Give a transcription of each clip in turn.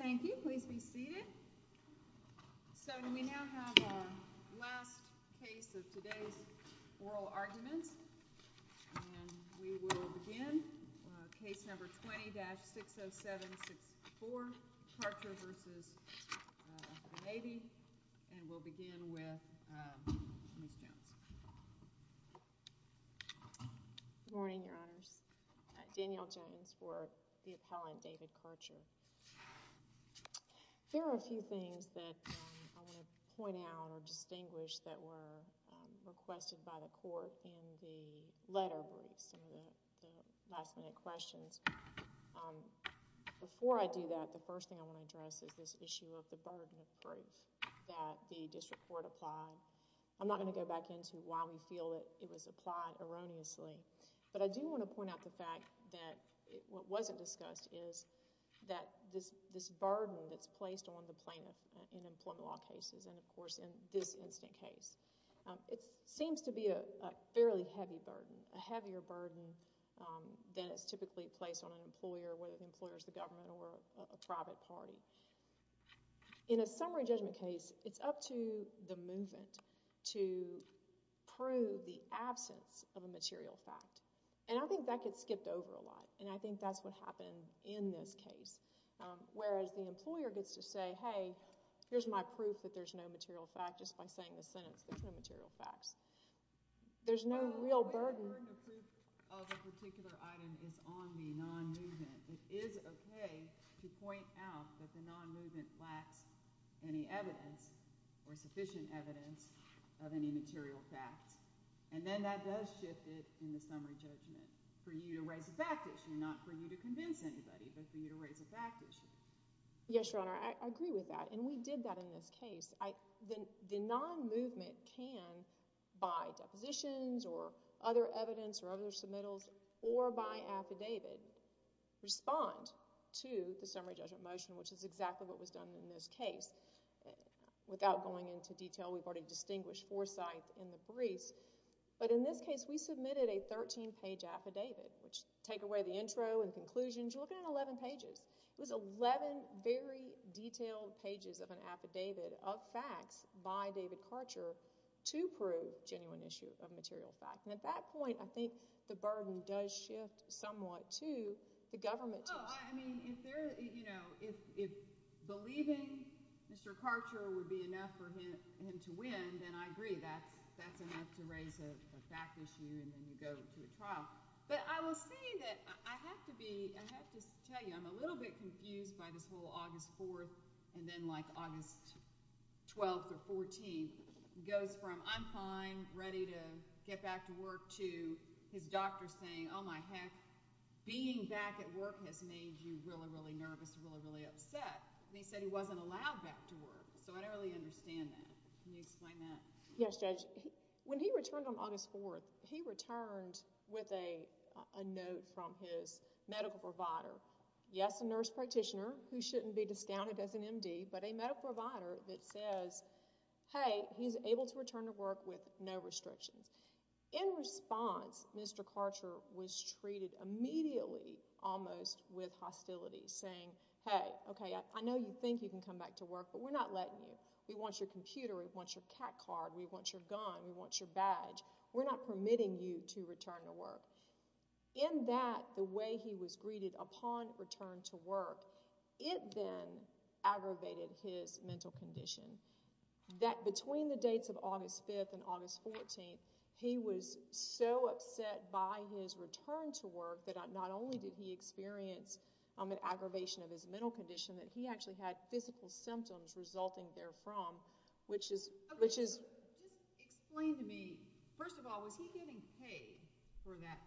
Thank you. Please be seated. So we now have our last case of today's oral arguments. And we'll begin with Ms. Jones. Danielle Jones Good morning, Your Honors. Danielle Jones for the appellant, David Karcher. There are a few things that I want to point out or distinguish that were requested by the court in the letter with some of the last-minute questions. Before I do that, the first thing I want to address is this issue of the burden of proof that the district court applied. I'm not going to go back into why we feel that it was applied erroneously, but I do want to point out the fact that what wasn't discussed is that this burden that's placed on the plaintiff in employment law cases and, of course, in this incident case, it seems to be a fairly heavy burden, a heavier burden than is typically placed on an employer, whether In a summary judgment case, it's up to the movement to prove the absence of a material fact. And I think that gets skipped over a lot, and I think that's what happened in this case, whereas the employer gets to say, hey, here's my proof that there's no material fact just by saying the sentence, there's no material facts. There's no real burden. When the proof of a particular item is on the non-movement, it is okay to point out that the non-movement lacks any evidence or sufficient evidence of any material facts. And then that does shift it in the summary judgment for you to raise a fact issue, not for you to convince anybody, but for you to raise a fact issue. Yes, Your Honor, I agree with that, and we did that in this case. The non-movement can, by depositions or other evidence or other submittals or by affidavit, respond to the summary judgment motion, which is exactly what was done in this case. Without going into detail, we've already distinguished four sites in the briefs, but in this case, we submitted a 13-page affidavit, which take away the intro and conclusions. You're looking at 11 pages. It was 11 very detailed pages of an affidavit of facts by David Karcher to prove genuine issue of material fact. And at that point, I think the burden does shift somewhat to the government. Oh, I mean, if they're, you know, if believing Mr. Karcher would be enough for him to win, then I agree that's enough to raise a fact issue and then you go to a trial. But I will say that I have to be, I have to tell you, I'm a little bit confused by this whole August 4th and then like August 12th or 14th goes from, I'm fine, ready to get back to work to his doctor saying, oh my heck, being back at work has made you really, really nervous, really, really upset. And he said he wasn't allowed back to work. So I don't really understand that. Can you explain that? Yes, Judge. When he returned on August 4th, he returned with a note from his medical provider. Yes, a nurse practitioner who shouldn't be discounted as an MD, but a medical provider that says, hey, he's able to return to work with no restrictions. In response, Mr. Karcher was treated immediately almost with hostility saying, hey, okay, I know you think you can come back to work, but we're not letting you. We want your computer. We want your CAT card. We want your gun. We want your badge. We're not permitting you to return to work. In that, the way he was greeted upon return to work, it then aggravated his mental condition. That between the dates of August 5th and August 14th, he was so upset by his return to work that not only did he experience an aggravation of his mental condition, that he actually had physical symptoms resulting therefrom, which is, which is Explain to me, first of all, was he getting paid for that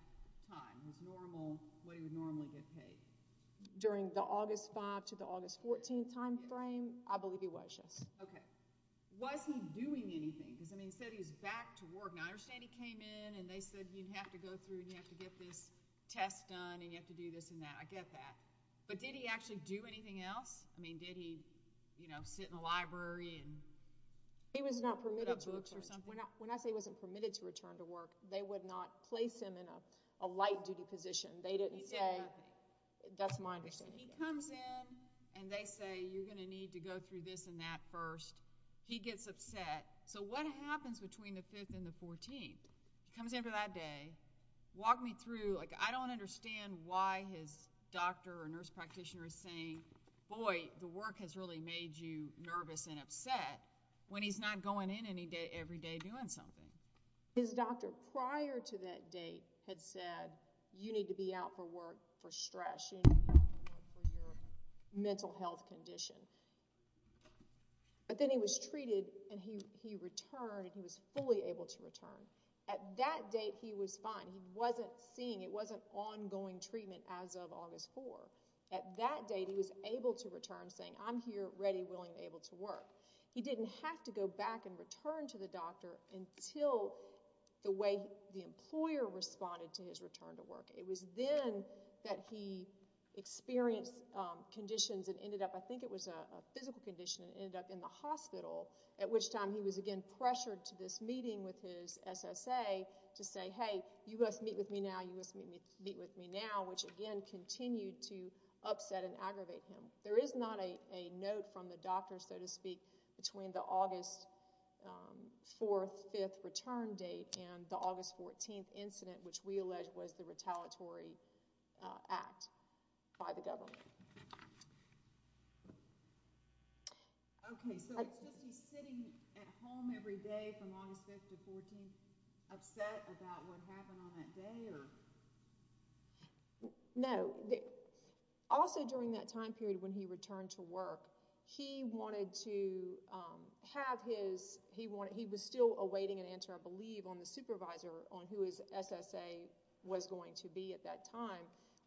time? Was normal, what he would normally get paid? During the August 5th to the August 14th timeframe, I believe he was, yes. Okay. Was he doing anything? Because, I mean, he said he was back to work. Now, I understand he came in and they said you'd have to go through and you have to get this test done and you have to do this and that. I get that. But did he actually do anything else? I mean, did he, you know, sit in the library and put up books or something? He was not permitted to, when I say he wasn't permitted to return to work, they would not place him in a light duty position. They didn't say, that's my understanding. He comes in and they say you're going to need to go through this and that first. He gets upset. So, what happens between the 5th and the 14th? He comes in for that day. Walk me through, like, I don't understand why his doctor or nurse practitioner is saying, boy, the work has really made you nervous and upset when he's not going in every day doing something. His doctor prior to that date had said, you need to be out for work for stress. You need to be out for work for your mental health condition. But then he was treated and he returned and he was fully able to return. At that date, he was fine. He wasn't seeing, it wasn't ongoing treatment as of August 4. At that date, he was able to return saying, I'm here, ready, willing, able to work. He didn't have to go back and return to the doctor until the way the employer responded to his return to work. It was then that he experienced conditions and ended up, I think it was a physical condition, and ended up in the hospital, at which time he was again pressured to this meeting with his SSA to say, hey, you must meet with me now, you must meet with me now, which again continued to upset and aggravate him. There is not a note from the doctor, so to speak, between the August 4th, 5th return date and the August 14th incident, which we allege was the retaliatory act by the government. Okay, so was he sitting at home every day from August 5th to 14th upset about what happened on that day? No. Also during that time period when he returned to work, he wanted to have his, he was still awaiting an answer, I believe, on the supervisor on who his SSA was going to be at that time.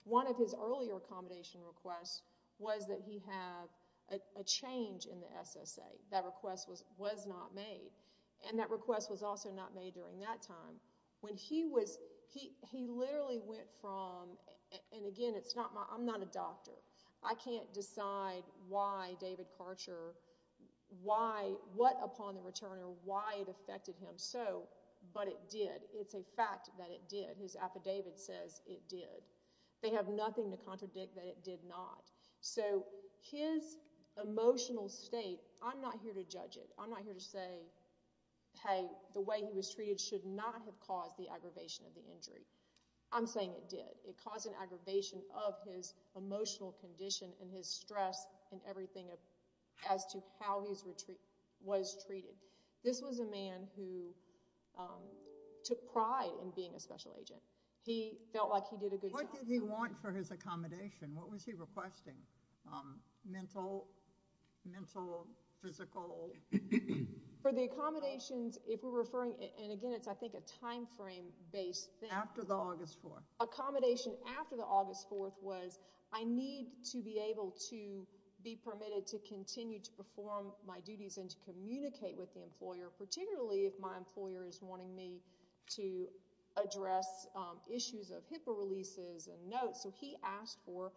One of his earlier accommodation requests was that he have a change in the SSA. That request was not made, and that request was also not made during that time. When he was, he literally went from, and again, it's not my, I'm not a doctor. I can't decide why David Karcher, why, what upon the return or why it affected him so, but it did. It's a reason why David says it did. They have nothing to contradict that it did not. So his emotional state, I'm not here to judge it. I'm not here to say, hey, the way he was treated should not have caused the aggravation of the injury. I'm saying it did. It caused an aggravation of his emotional condition and his stress and everything as to how he was treated. This was a man who took pride in being a special agent. He felt like he did a good job. What did he want for his accommodation? What was he requesting? Mental, physical? For the accommodations, if we're referring, and again, it's, I think, a timeframe-based thing. After the August 4th. Accommodation after the August 4th was I need to be able to be permitted to continue to work, particularly if my employer is wanting me to address issues of HIPAA releases and notes. So he asked for,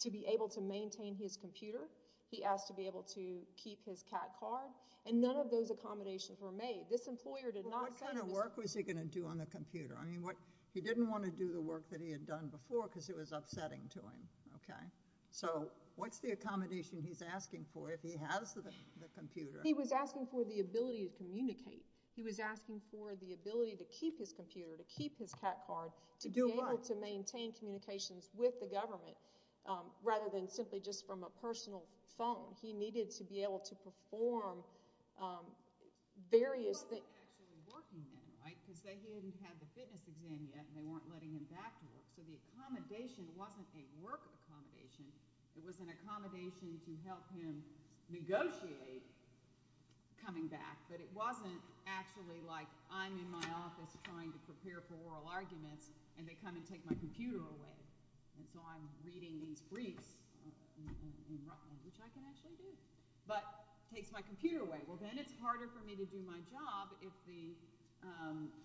to be able to maintain his computer. He asked to be able to keep his CAT card and none of those accommodations were made. This employer did not say- What kind of work was he going to do on the computer? I mean, he didn't want to do the work that he had done before because it was upsetting to him, okay? So what's the accommodation he's asking for if he has the computer? He was asking for the ability to communicate. He was asking for the ability to keep his computer, to keep his CAT card, to be able to maintain communications with the government rather than simply just from a personal phone. He needed to be able to perform various- What was he actually working in, right? Because he hadn't had the fitness exam yet and they weren't letting him back to work. So the accommodation wasn't a work accommodation. It was an accommodation to help him negotiate coming back, but it wasn't actually like I'm in my office trying to prepare for oral arguments and they come and take my computer away. And so I'm reading these briefs, which I can actually do, but takes my computer away. Well, then it's harder for me to do my job if the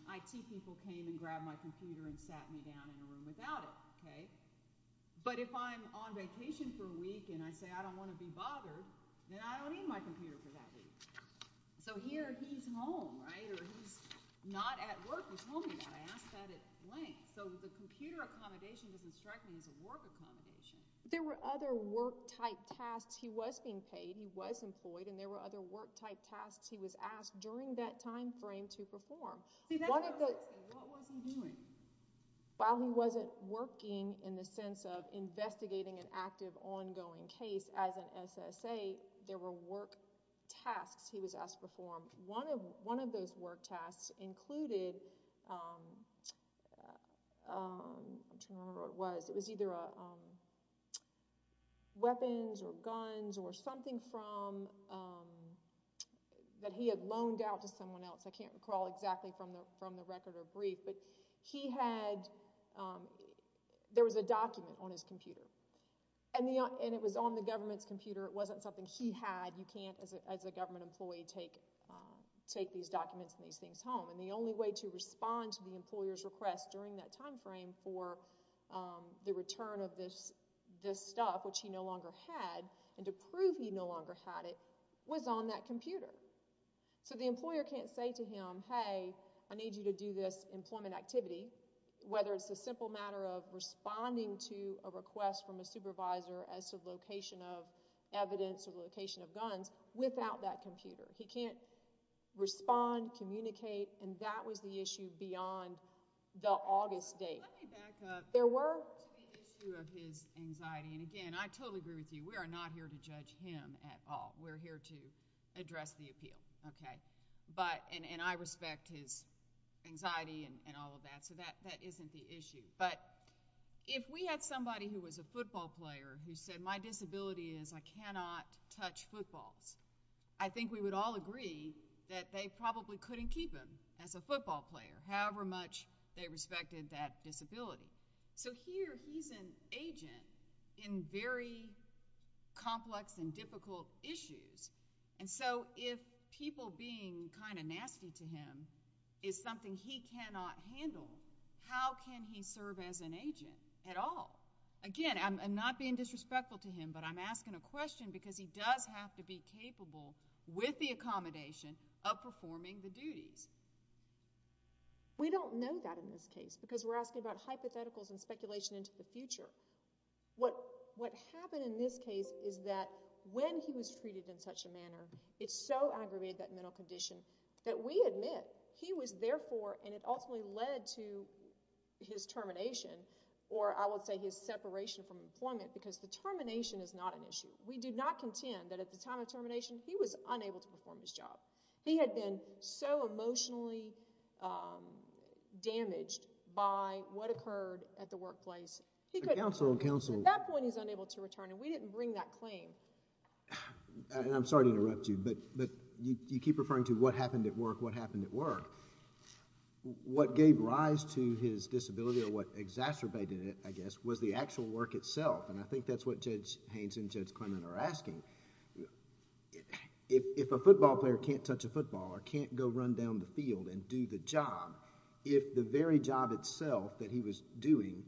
IT people came and grabbed my computer and sat me down in a room without it, okay? But if I'm on vacation for a week and I say I don't want to be bothered, then I don't need my computer for that week. So here he's home, right? Or he's not at work. He told me that. I asked that at length. So the computer accommodation was instructed as a work accommodation. There were other work-type tasks. He was being paid, he was employed, and there were other work-type tasks he was asked during that time frame to perform. What was he doing? While he wasn't working in the sense of investigating an active, ongoing case as an SSA, there were work tasks he was asked to perform. One of those work tasks included, I can't remember what it was, it was either weapons or guns or something that he had loaned out to someone else. I can't recall exactly from the record or brief, but he had, there was a document on his computer. And it was on the government's computer. It wasn't something he had. You can't, as a government employee, take these documents and these things home. And the only way to respond to the employer's request during that time frame for the return of this stuff, which he no longer had, and to prove he no longer had it, was on that computer. So the employer can't say to him, hey, I need you to do this employment activity, whether it's a simple matter of responding to a request from a supervisor as to location of evidence or location of guns, without that computer. He can't respond, communicate, and that was the issue beyond the August date. Let me back up. There were. To the issue of his anxiety. And again, I totally agree with you. We are not here to appeal. And I respect his anxiety and all of that. So that isn't the issue. But if we had somebody who was a football player who said, my disability is I cannot touch footballs, I think we would all agree that they probably couldn't keep him as a football player, however much they respected that disability. So here, he's an agent in very complex and difficult issues. And so, if people being kind of nasty to him is something he cannot handle, how can he serve as an agent at all? Again, I'm not being disrespectful to him, but I'm asking a question because he does have to be capable with the accommodation of performing the duties. We don't know that in this case, because we're asking about hypotheticals and speculation into the future. What happened in this case is that when he was treated in such a manner, it so aggravated that mental condition that we admit he was therefore, and it ultimately led to his termination, or I would say his separation from employment, because the termination is not an issue. We do not contend that at the time of termination, he was unable to return. He was emotionally damaged by what occurred at the workplace. At that point, he was unable to return, and we didn't bring that claim. I'm sorry to interrupt you, but you keep referring to what happened at work, what happened at work. What gave rise to his disability or what exacerbated it, I guess, was the actual work itself, and I think that's what Judge Haynes and Judge Clement are asking. If a person could go out into the field and do the job, if the very job itself that he was doing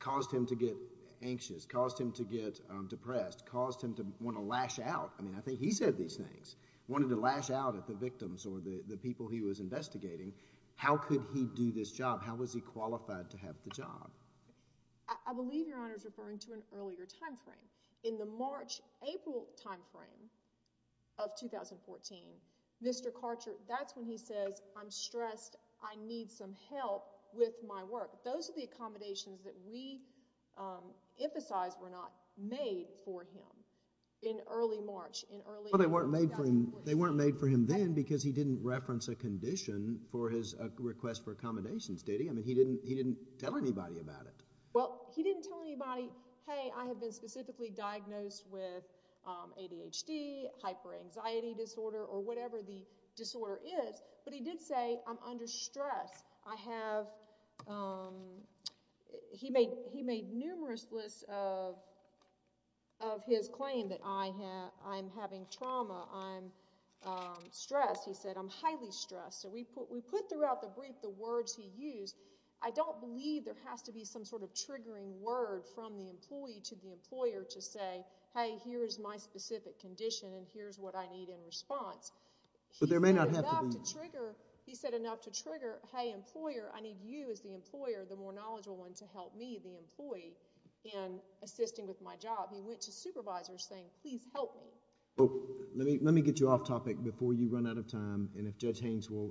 caused him to get anxious, caused him to get depressed, caused him to want to lash out, I mean, I think he said these things, wanted to lash out at the victims or the people he was investigating, how could he do this job? How was he qualified to have the job? I believe Your Honor is referring to an earlier time frame. In the March-April time frame of 2014, Mr. Karcher, that's when he says, I'm stressed, I need some help with my work. Those are the accommodations that we emphasize were not made for him in early March, in early- Well, they weren't made for him then because he didn't reference a condition for his request for accommodations, did he? I mean, he didn't tell anybody about it. Well, he didn't tell anybody, hey, I have been specifically diagnosed with ADHD, hyperanxiety disorder, or whatever the disorder is, but he did say, I'm under stress. I have, he made numerous lists of his claim that I'm having trauma, I'm stressed. He said, I'm highly stressed. So we put throughout the brief the words he used. I don't believe there has to be some sort of triggering word from the employee to the employer to say, hey, here is my specific condition and here is what I need in response. But there may not have to be... He said enough to trigger, hey, employer, I need you as the employer, the more knowledgeable one, to help me, the employee, in assisting with my job. He went to supervisors saying, please help me. Let me get you off topic before you run out of time and if Judge Haynes will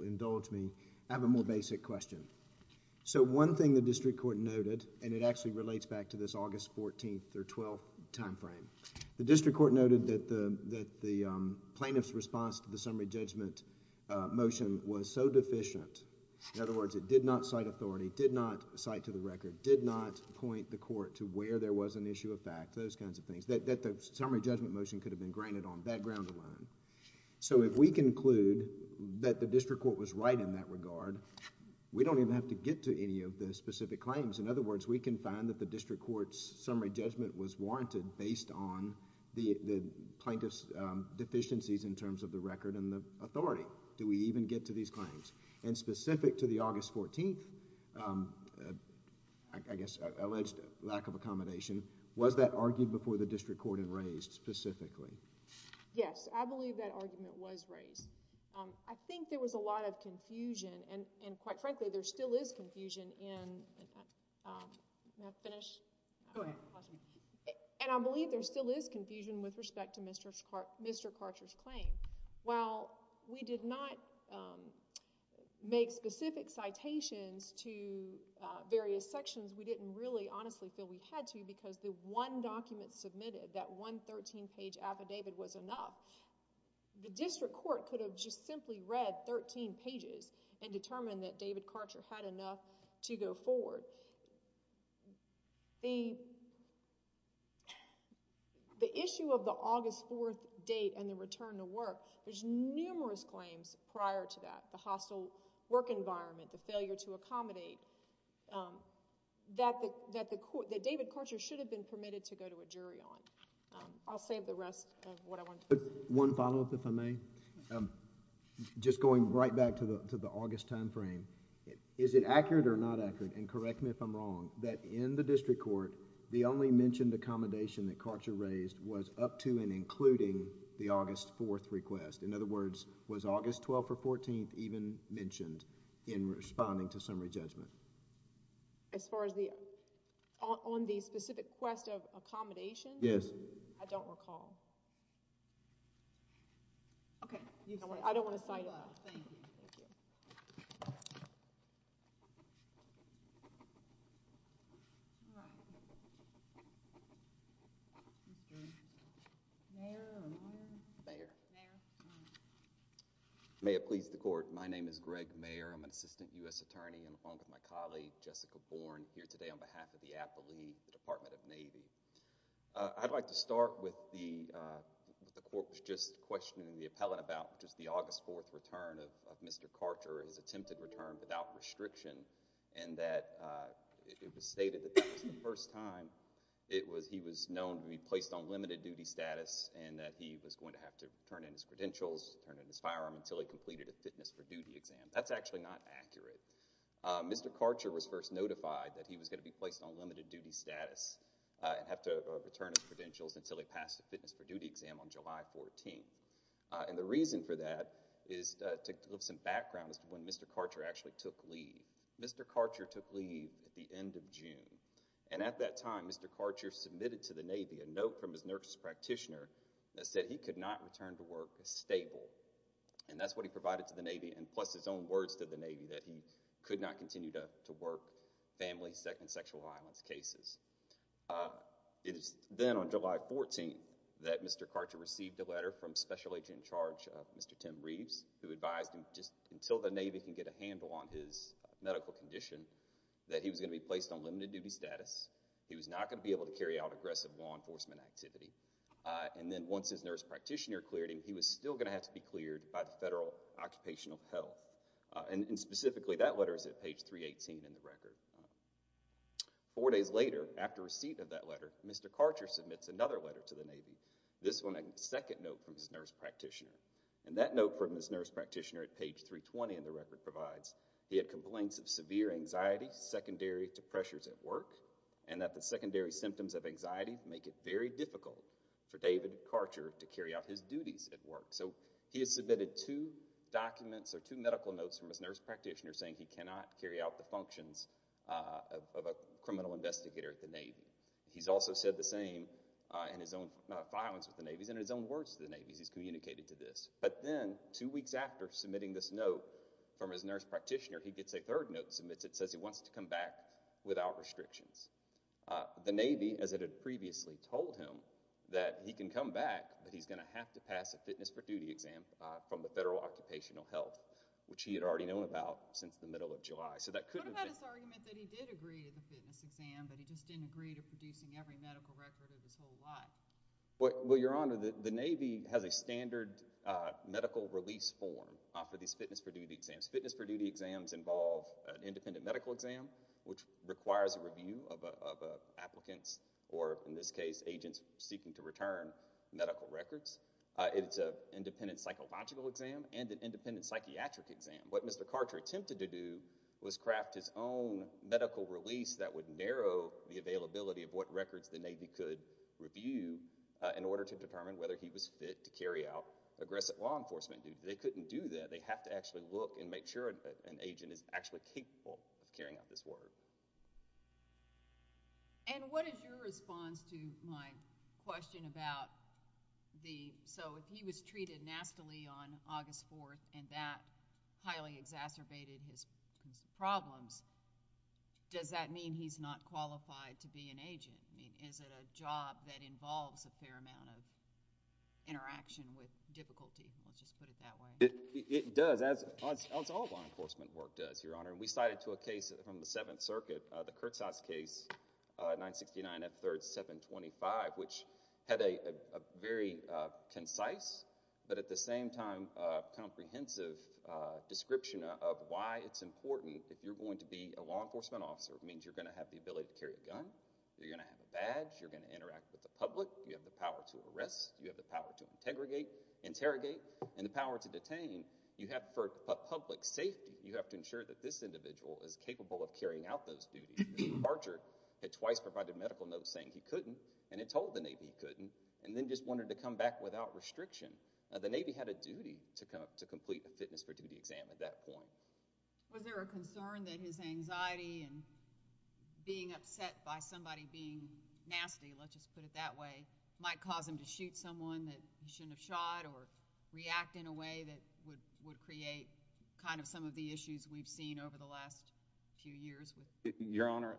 So one thing the District Court noted, and it actually relates back to this August 14th or 12th time frame, the District Court noted that the plaintiff's response to the summary judgment motion was so deficient, in other words, it did not cite authority, did not cite to the record, did not point the court to where there was an issue of fact, those kinds of things, that the summary judgment motion could have been granted on that ground alone. So if we conclude that the We don't even have to get to any of the specific claims. In other words, we can find that the District Court's summary judgment was warranted based on the plaintiff's deficiencies in terms of the record and the authority. Do we even get to these claims? And specific to the August 14th, I guess, alleged lack of accommodation, was that argued before the District Court and raised specifically? Yes, I believe that argument was raised. I think there was a lot of confusion and quite frankly, there still is confusion in... can I finish? Go ahead. And I believe there still is confusion with respect to Mr. Karcher's claim. While we did not make specific citations to various sections, we didn't really honestly feel we had to because the one document submitted, that one thirteen page affidavit was enough. The District Court could have just simply read that thirteen pages and determined that David Karcher had enough to go forward. The issue of the August 4th date and the return to work, there's numerous claims prior to that, the hostile work environment, the failure to accommodate, that David Karcher should have been permitted to go to a jury on. I'll save the rest of what I wanted to say. One follow-up if I may. Just going right back to the August timeframe, is it accurate or not accurate, and correct me if I'm wrong, that in the District Court, the only mentioned accommodation that Karcher raised was up to and including the August 4th request? In other words, was August 12th or 14th even mentioned in responding to summary judgment? As far as the, on the specific request of accommodation? Yes. I don't recall. Okay. I don't want to side up. Thank you. Mayor or Mayor? Mayor. Mayor. Thank you, Mr. Attorney. I'm along with my colleague, Jessica Bourne, here today on behalf of the athlete, the Department of Navy. I'd like to start with the court was just questioning the appellant about just the August 4th return of Mr. Karcher, his attempted return without restriction, and that it was stated that that was the first time he was known to be placed on limited duty status, and that he was going to have to turn in his credentials, turn in his firearm, until he completed a fitness for duty exam. That's actually not accurate. Mr. Karcher was first notified that he was going to be placed on limited duty status and have to return his credentials until he passed a fitness for duty exam on July 14th, and the reason for that is to give some background as to when Mr. Karcher actually took leave. Mr. Karcher took leave at the end of June, and at that time, Mr. Karcher submitted to the Navy a note from his nurse practitioner that said he could not return to work as stable, and that's what he provided to the Navy and plus his own words to the Navy that he could not continue to work family and sexual violence cases. It is then on July 14th that Mr. Karcher received a letter from Special Agent in Charge Mr. Tim Reeves who advised him just until the Navy can get a handle on his medical condition that he was going to be placed on limited duty status, he was not going to be able to carry out aggressive law and when the nurse practitioner cleared him, he was still going to have to be cleared by the Federal Occupational Health, and specifically that letter is at page 318 in the record. Four days later, after receipt of that letter, Mr. Karcher submits another letter to the Navy, this one a second note from his nurse practitioner, and that note from his nurse practitioner at page 320 in the record provides he had complaints of severe anxiety secondary to pressures at work and that the secondary symptoms of anxiety make it very difficult for David Karcher to carry out his duties at work. So he has submitted two documents or two medical notes from his nurse practitioner saying he cannot carry out the functions of a criminal investigator at the Navy. He's also said the same in his own violence with the Navy and in his own words to the Navy as he's communicated to this. But then, two weeks after submitting this note from his nurse practitioner, he gets a third note that says he wants to come back without restrictions. The Navy, as it had previously told him, that he can come back, but he's going to have to pass a fitness for duty exam from the Federal Occupational Health, which he had already known about since the middle of July. So that could have been... What about his argument that he did agree to the fitness exam, but he just didn't agree to producing every medical record of his whole life? Well, Your Honor, the Navy has a standard medical release form for these fitness for duty exams. Fitness for duty exams involve an independent medical exam, which requires a review of applicants or, in this case, agents seeking to return medical records. It's an independent psychological exam and an independent psychiatric exam. What Mr. Carter attempted to do was craft his own medical release that would narrow the availability of what records the Navy could review in order to determine whether he was fit to carry out aggressive law enforcement duty. They couldn't do that. They have to actually look and make sure that an agent is actually capable of doing that. And what is your response to my question about the... So if he was treated nastily on August 4th and that highly exacerbated his problems, does that mean he's not qualified to be an agent? I mean, is it a job that involves a fair amount of interaction with difficulty? Let's just put it that way. It does, as all law enforcement work does, Your Honor. We cited to a case from the Seventh Circuit, the Kertzhaus case, 969 F3rd 725, which had a very concise but at the same time comprehensive description of why it's important that you're going to be a law enforcement officer. It means you're going to have the ability to carry a gun. You're going to have a badge. You're going to interact with the public. You have the power to arrest. You have the power to interrogate. And the power to detain. I mean, for public safety, you have to ensure that this individual is capable of carrying out those duties. Archer had twice provided medical notes saying he couldn't and had told the Navy he couldn't and then just wanted to come back without restriction. The Navy had a duty to complete a fitness for duty exam at that point. Was there a concern that his anxiety and being upset by somebody being nasty, let's just put it that way, might cause him to shoot someone that he shouldn't have shot or react in a way that would create kind of some of the issues we've seen over the last few years? Your Honor,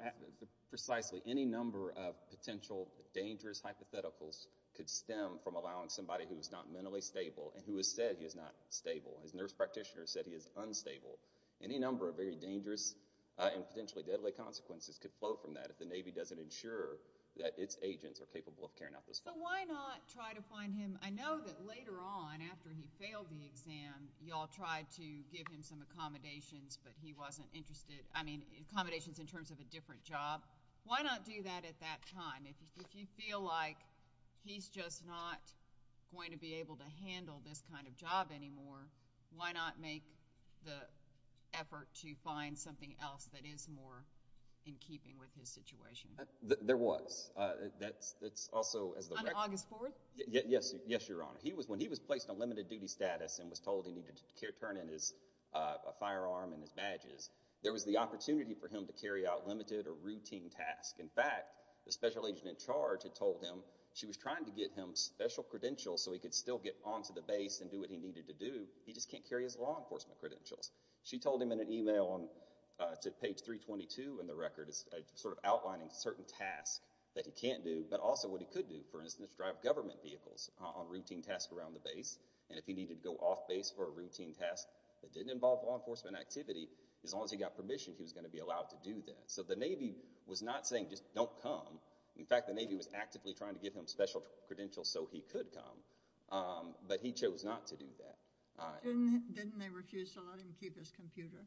precisely. Any number of potential dangerous hypotheticals could stem from allowing somebody who is not mentally stable and who has said he is not stable. His nurse practitioner said he is unstable. Any number of very dangerous and potentially deadly consequences could float from that if the Navy doesn't ensure that its agents are capable of carrying out those functions. But why not try to find him, I know that later on after he failed the exam, you all tried to give him some accommodations but he wasn't interested, I mean accommodations in terms of a different job. Why not do that at that time? If you feel like he's just not going to be able to handle this kind of job anymore, why not make the effort to find something else that is more in keeping with his situation? There was. On August 4th? Yes, Your Honor. When he was placed on limited duty status and was told he needed to turn in his firearm and his badges, there was the opportunity for him to carry out limited or routine tasks. In fact, the special agent in charge had told him she was trying to get him special credentials so he could still get onto the base and do what he needed to do, he just can't carry his law enforcement credentials. She told him in an email to page 322 in the record, sort of outlining certain tasks that he can't do, but also what he could do, for instance, drive government vehicles on routine tasks around the base, and if he needed to go off base for a routine task that didn't involve law enforcement activity, as long as he got permission, he was going to be allowed to do that. So the Navy was not saying just don't come. In fact, the Navy was actively trying to give him special credentials so he could come, but he chose not to do that. Didn't they refuse to let him keep his computer?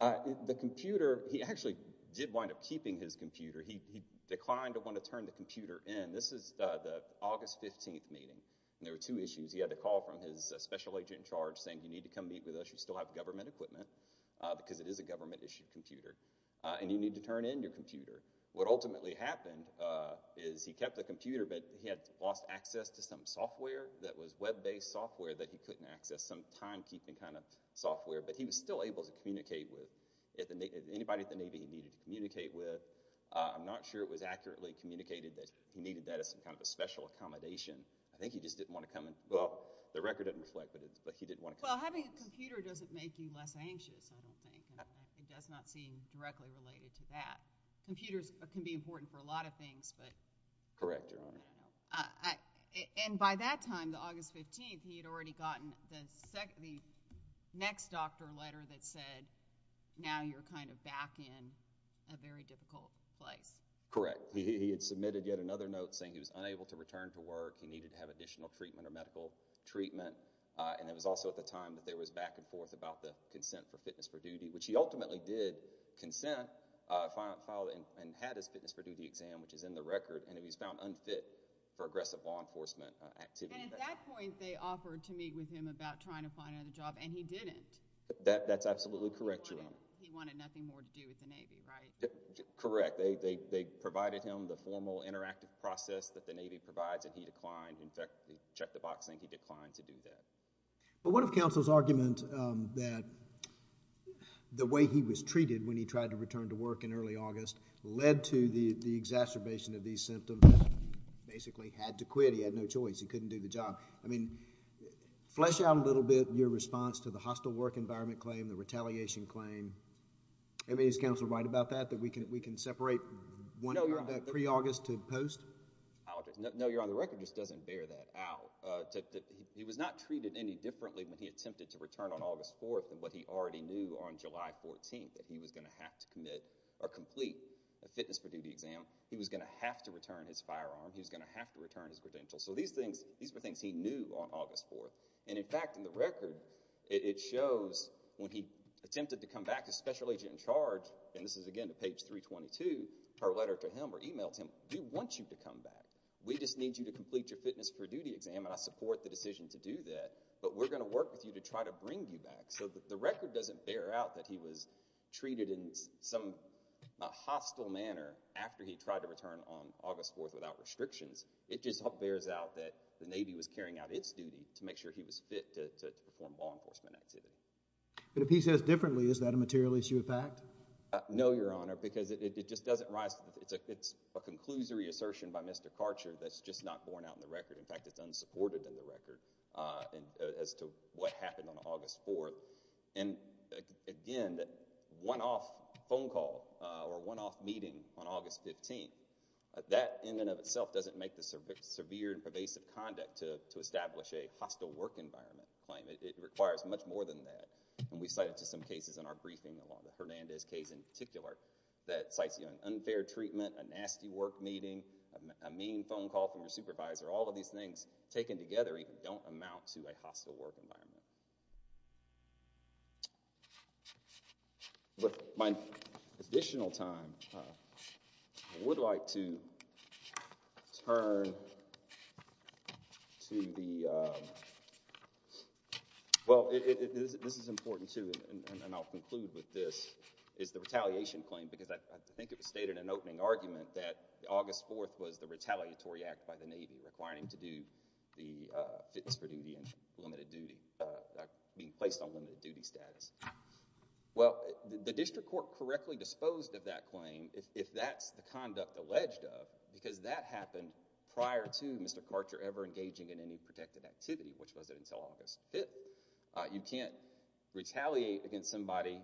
The computer, he actually did wind up keeping his computer. He declined to want to turn the computer in. This is the August 15th meeting, and there were two issues. He had a call from his special agent in charge saying you need to come meet with us, you still have government equipment, because it is a government-issued computer, and you need to turn in your computer. What ultimately happened is he kept the computer, but he had lost access to some software that was web-based software that he couldn't access, some timekeeping kind of software, but he was still able to communicate with anybody at the Navy he needed to communicate with. I'm not sure it was accurately communicated that he needed that as some kind of a special accommodation. I think he just didn't want to come in. Well, the record doesn't reflect that, but he didn't want to come in. Well, having a computer doesn't make you less anxious, I don't think. It does not seem directly related to that. Computers can be important for a lot of things, but... Correct, Your Honor. And by that time, the August 15th, he had already gotten the next doctor letter that said, now you're kind of back in a very difficult place. Correct. He had submitted yet another note saying he was unable to return to work, he needed to have additional treatment or medical treatment, and it was also at the time that there was back and forth about the consent for fitness for duty, which he ultimately did consent, filed and had his fitness for duty exam, which is in the record, and he was found unfit for aggressive law enforcement activity. And at that point, they offered to meet with him about trying to find another job, and he didn't. That's absolutely correct, Your Honor. He wanted nothing more to do with the Navy, right? Correct. They provided him the formal interactive process that the Navy provides, and he declined. In fact, they checked the box saying he declined to do that. But what if counsel's argument that the way he was treated when he tried to return to work in early August led to the exacerbation of these symptoms, that he basically had to quit, he had no choice, he couldn't do the job. I mean, flesh out a little bit your response to the hostile work environment claim, the retaliation claim. I mean, is counsel right about that, that we can separate one of that pre-August to post? No, Your Honor, the record just doesn't bear that out. He was not treated any differently when he attempted to return on August 4th than what he already knew on July 14th, that he was going to have to commit or complete a fitness for duty exam. He was going to have to return his firearm. He was going to have to return his credential. So these were things he knew on August 4th. And in fact, in the record, it shows when he attempted to come back, his special agent in charge, and this is again to page 322, her letter to him or emailed him, we want you to come back. We just need you to complete your fitness for duty exam, and I support the decision to do that, but we're going to work with you to try to bring you back. So the record doesn't bear out that he was treated in some hostile manner after he tried to return on August 4th without restrictions. It just bears out that the Navy was carrying out its duty to make sure he was fit to perform law enforcement activities. But if he says differently, is that a material issue of fact? No, Your Honor, because it just doesn't rise to – it's a conclusory assertion by Mr. Karcher that's just not borne out in the record. In fact, it's unsupported in the record as to what happened on August 4th. And again, that one-off phone call or one-off meeting on August 15th, that in and of itself doesn't make the severe and pervasive conduct to establish a hostile work environment claim. It requires much more than that, and we cite it to some cases in our briefing along with Hernandez case in particular that cites an unfair treatment, a nasty work meeting, a mean phone call from your supervisor. All of these things taken together don't amount to a hostile work environment. With my additional time, I would like to turn to the – well, this is important too, and I'll conclude with this – is the retaliation claim, because I think it was stated in an opening argument that August 4th was the retaliatory act by the Navy requiring to do the fitness for duty and limited duty, being placed on limited duty status. Well, the district court correctly disposed of that claim if that's the conduct alleged of, because that happened prior to Mr. Karcher ever engaging in any protected activity, which wasn't until August 5th. You can't retaliate against somebody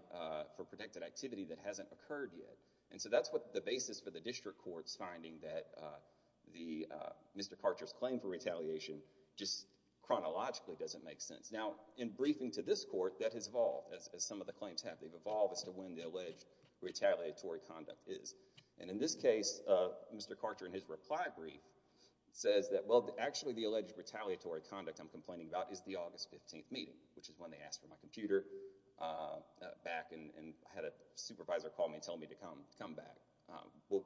for protected activity that hasn't occurred yet. And so that's what the basis for the district court's finding that Mr. Karcher's claim for retaliation just chronologically doesn't make sense. Now, in briefing to this court, that has evolved, as some of the claims have. They've evolved as to when the alleged retaliatory conduct is. And in this case, Mr. Karcher in his reply brief says that, well, actually the alleged retaliatory conduct I'm complaining about is the August 15th meeting, which is when they asked for my computer back and had a supervisor call me and tell me to come back. Well,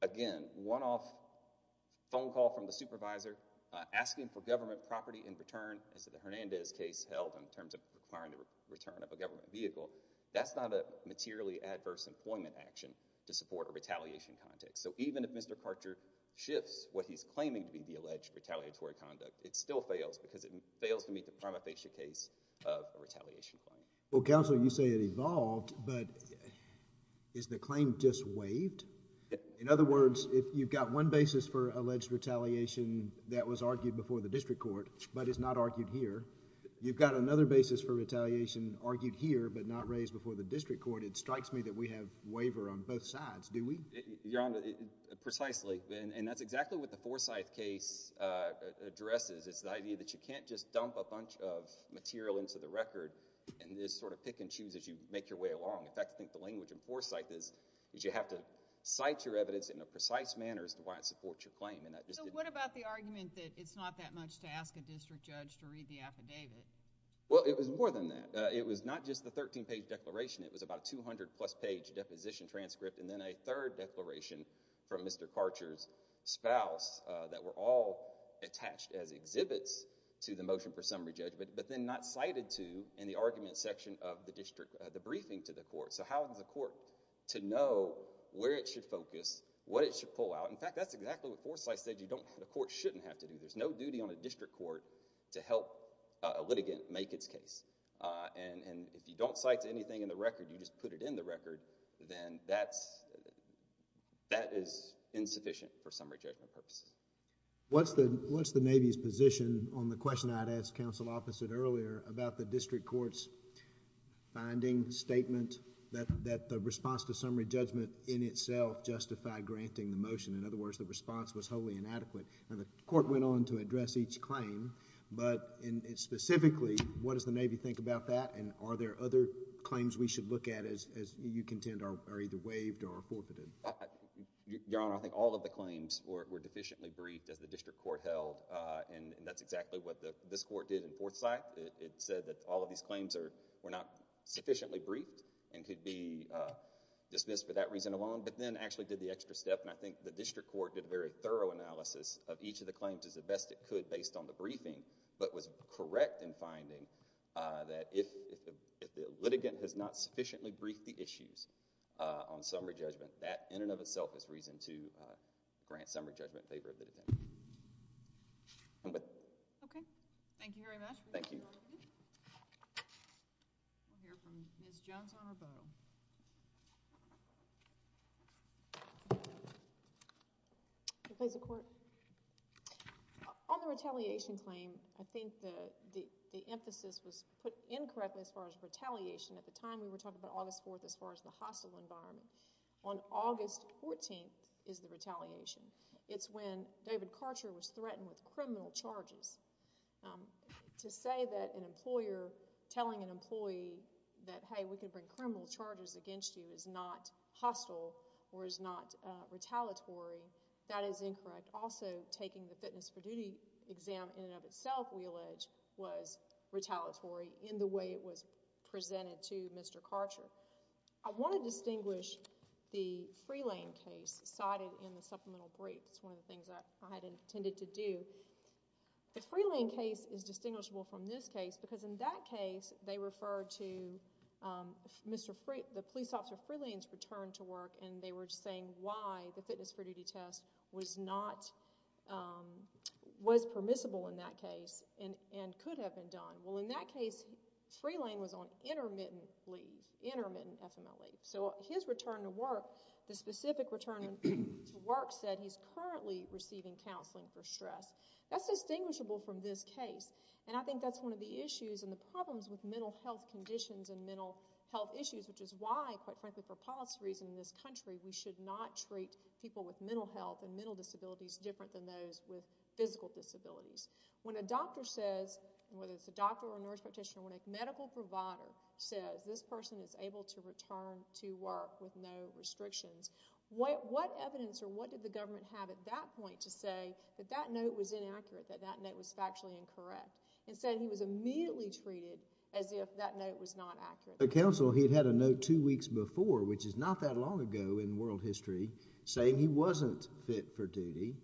again, one-off phone call from the supervisor asking for government property in return, as the Hernandez case held, in terms of requiring the return of a government vehicle, that's not a materially adverse employment action to support a retaliation context. So even if Mr. Karcher shifts what he's claiming to be the alleged retaliatory conduct, it still fails because it fails to meet the prima facie case of a retaliation claim. Well, counsel, you say it evolved, but is the claim just waived? In other words, if you've got one basis for alleged retaliation that was argued before the district court but is not argued here, you've got another basis for retaliation argued here but not raised before the district court, it strikes me that we have waiver on both sides, do we? You're on the—precisely. And that's exactly what the Forsyth case addresses. It's the idea that you can't just dump a bunch of material into the record and just sort of pick and choose as you make your way along. In fact, I think the language in Forsyth is you have to cite your evidence in a precise manner as to why it supports your claim. So what about the argument that it's not that much to ask a district judge to read the affidavit? Well, it was more than that. It was not just the 13-page declaration. It was about a 200-plus-page deposition transcript and then a third declaration from Mr. Karcher's spouse that were all attached as exhibits to the motion for summary judgment but then not cited to in the argument section of the district—the briefing to the court. So how is the court to know where it should focus, what it should pull out? In fact, that's exactly what Forsyth said you don't—the court shouldn't have to do. There's no duty on a district court to help a litigant make its case. And if you don't cite to anything in the record, you just put it in the record, then that is insufficient for summary judgment purposes. What's the Navy's position on the question I'd asked counsel opposite earlier about the district court's finding statement that the response to summary judgment in itself justified granting the motion? In other words, the response was wholly inadequate. And the court went on to address each claim, but specifically what does the Navy think about that and are there other claims we should look at as you contend are either waived or forfeited? Your Honor, I think all of the claims were deficiently briefed as the district court held and that's exactly what this court did in Forsyth. It said that all of these claims were not sufficiently briefed and could be dismissed for that reason alone but then actually did the extra step and I think the district court did a very thorough analysis of each of the claims as best it could based on the briefing but was correct in finding that if the litigant has not sufficiently briefed the issues on summary judgment, that in and of itself is reason to grant summary judgment in favor of the litigant. I'm with you. Okay. Thank you very much. Thank you. We'll hear from Ms. Johnson-Aboe. Please, the court. On the retaliation claim, I think the emphasis was put in correctly as far as retaliation. At the time we were talking about August 4th as far as the hostile environment. On August 14th is the retaliation. It's when David Karcher was threatened with criminal charges. To say that an employer telling an employee that, hey, we can bring criminal charges against you is not hostile or is not retaliatory, that is incorrect. Also, taking the fitness for duty exam in and of itself, we allege, was retaliatory in the way it was presented to Mr. Karcher. I want to distinguish the Freelane case cited in the supplemental brief. It's one of the things that I had intended to do. The Freelane case is distinguishable from this case because in that case, they referred to the police officer Freelane's return to work and they were saying why the fitness for duty test was permissible in that case and could have been done. Well, in that case, Freelane was on intermittent leave, intermittent FMLA. So his return to work, the specific return to work said he's currently receiving counseling for stress. That's distinguishable from this case and I think that's one of the issues and the problems with mental health conditions and mental health issues which is why, quite frankly, for policy reasons in this country, we should not treat people with mental health and mental disabilities different than those with physical disabilities. When a doctor says, whether it's a doctor or a nurse practitioner, when a medical provider says, this person is able to return to work with no restrictions, what evidence or what did the government have at that point to say that that note was inaccurate, that that note was factually incorrect? Instead, he was immediately treated as if that note was not accurate. The counsel, he'd had a note two weeks before, which is not that long ago in world history, saying he wasn't fit for duty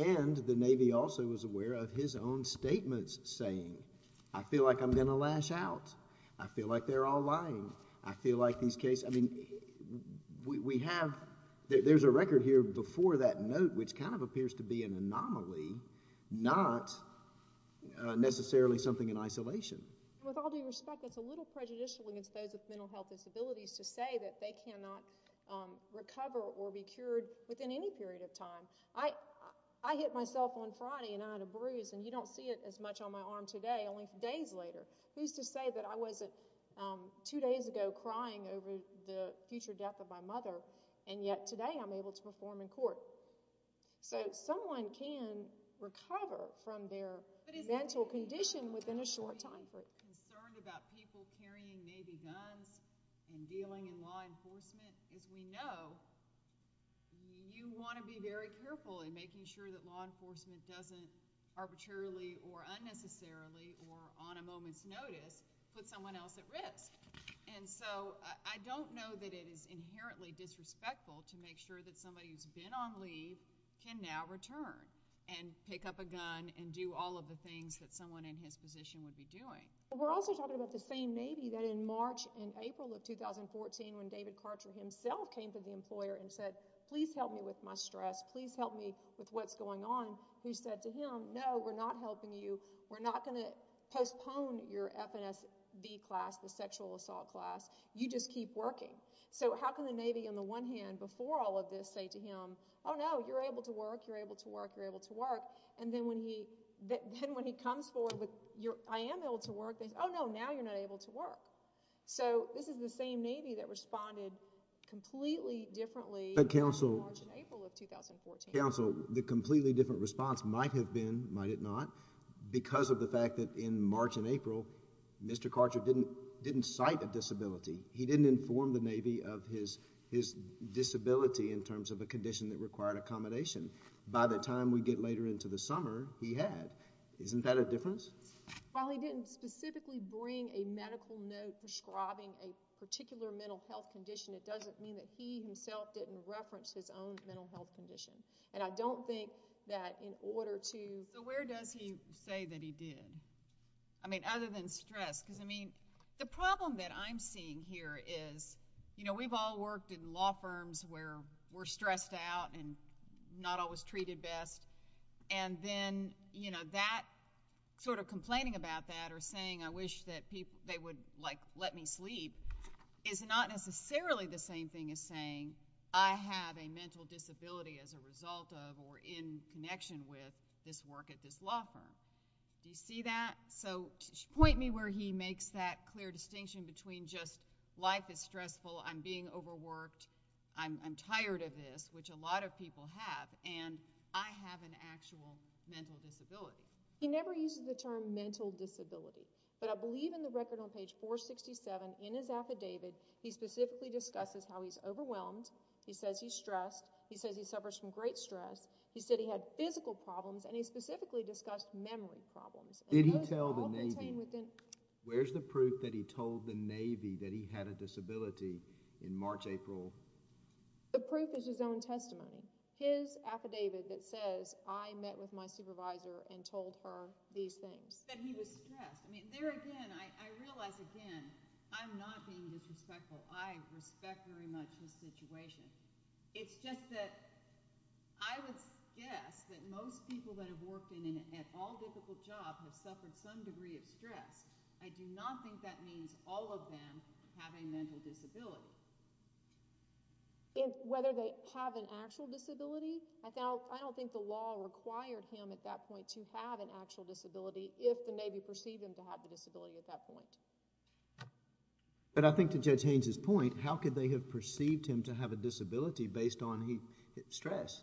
and the Navy also was aware of his own statements saying, I feel like I'm going to lash out. I feel like they're all lying. I feel like these cases, I mean, we have, there's a record here before that note which kind of appears to be an anomaly, not necessarily something in isolation. With all due respect, that's a little prejudicial against those with mental health disabilities to say that they cannot recover or be cured within any period of time. I hit myself on Friday and I had a bruise and you don't see it as much on my arm today, only days later. Who's to say that I wasn't two days ago crying over the future death of my mother and yet today I'm able to perform in court? So someone can recover from their mental condition within a short time. ...concerned about people carrying Navy guns and dealing in law enforcement. As we know, you want to be very careful in making sure that law enforcement doesn't arbitrarily or unnecessarily or on a moment's notice put someone else at risk. And so I don't know that it is inherently disrespectful to make sure that somebody who's been on leave can now return and pick up a gun and do all of the things that someone in his position would be doing. We're also talking about the same Navy that in March and April of 2014 when David Karcher himself came to the employer and said, please help me with my stress, please help me with what's going on, we said to him, no, we're not helping you, we're not going to postpone your FNSV class, the sexual assault class, you just keep working. So how can the Navy on the one hand, before all of this, say to him, oh no, you're able to work, you're able to work, you're able to work, and then when he comes forward with, I am able to work, they say, oh no, now you're not able to work. So this is the same Navy that responded completely differently in March and April of 2014. But counsel, the completely different response might have been, might it not, because of the fact that in March and April, Mr. Karcher didn't cite a disability. He didn't inform the Navy of his disability in terms of a condition that required accommodation. By the time we get later into the summer, he had. Isn't that a difference? And while he didn't specifically bring a medical note prescribing a particular mental health condition, it doesn't mean that he himself didn't reference his own mental health condition. And I don't think that in order to... So where does he say that he did? I mean, other than stress, because, I mean, the problem that I'm seeing here is, you know, we've all worked in law firms where we're stressed out and not always treated best, and then, you know, that sort of complaining about that or saying, I wish that they would, like, let me sleep is not necessarily the same thing as saying, I have a mental disability as a result of or in connection with this work at this law firm. Do you see that? So point me where he makes that clear distinction between just life is stressful, I'm being overworked, I'm tired of this, which a lot of people have, and I have an actual mental disability. He never uses the term mental disability, but I believe in the record on page 467 in his affidavit, he specifically discusses how he's overwhelmed, he says he's stressed, he says he suffers from great stress, he said he had physical problems, and he specifically discussed memory problems. Did he tell the Navy? Where's the proof that he told the Navy that he had a disability in March, April? The proof is his own testimony. His affidavit that says, I met with my supervisor and told her these things. He said he was stressed. There again, I realize again, I'm not being disrespectful. I respect very much his situation. It's just that I would guess that most people that have worked in an at-all-difficult job have suffered some degree of stress. I do not think that means all of them have a mental disability. Whether they have an actual disability, I don't think the law required him at that point to have an actual disability if the Navy perceived him to have a disability at that point. But I think to Judge Haynes' point, how could they have perceived him to have a disability based on his stress?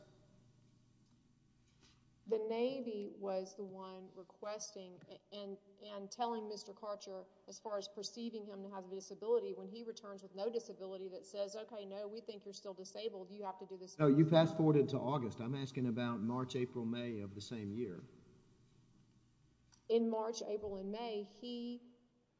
The Navy was the one requesting and telling Mr. Karcher, as far as perceiving him to have a disability, when he returns with no disability, that says, OK, no, we think you're still disabled. You have to do this. You fast-forwarded to August. I'm asking about March, April, May of the same year. In March, April, and May, he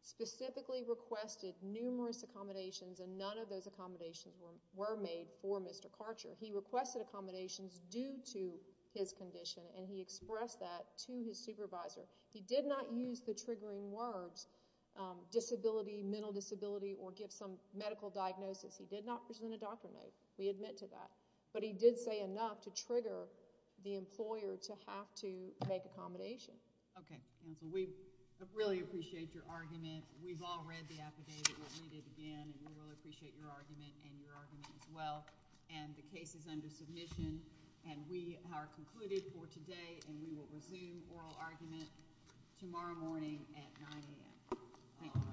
specifically requested numerous accommodations, and none of those accommodations were made for Mr. Karcher. He requested accommodations due to his condition, and he expressed that to his supervisor. He did not use the triggering words disability, mental disability, or give some medical diagnosis. He did not present a doctor note. We admit to that. But he did say enough to trigger the employer to have to make accommodations. OK. And so we really appreciate your argument. We've all read the affidavit. We'll read it again, and we really appreciate your argument and your argument as well. And the case is under submission, and we are concluded for today, and we will resume oral argument tomorrow morning at 9 a.m. Thank you.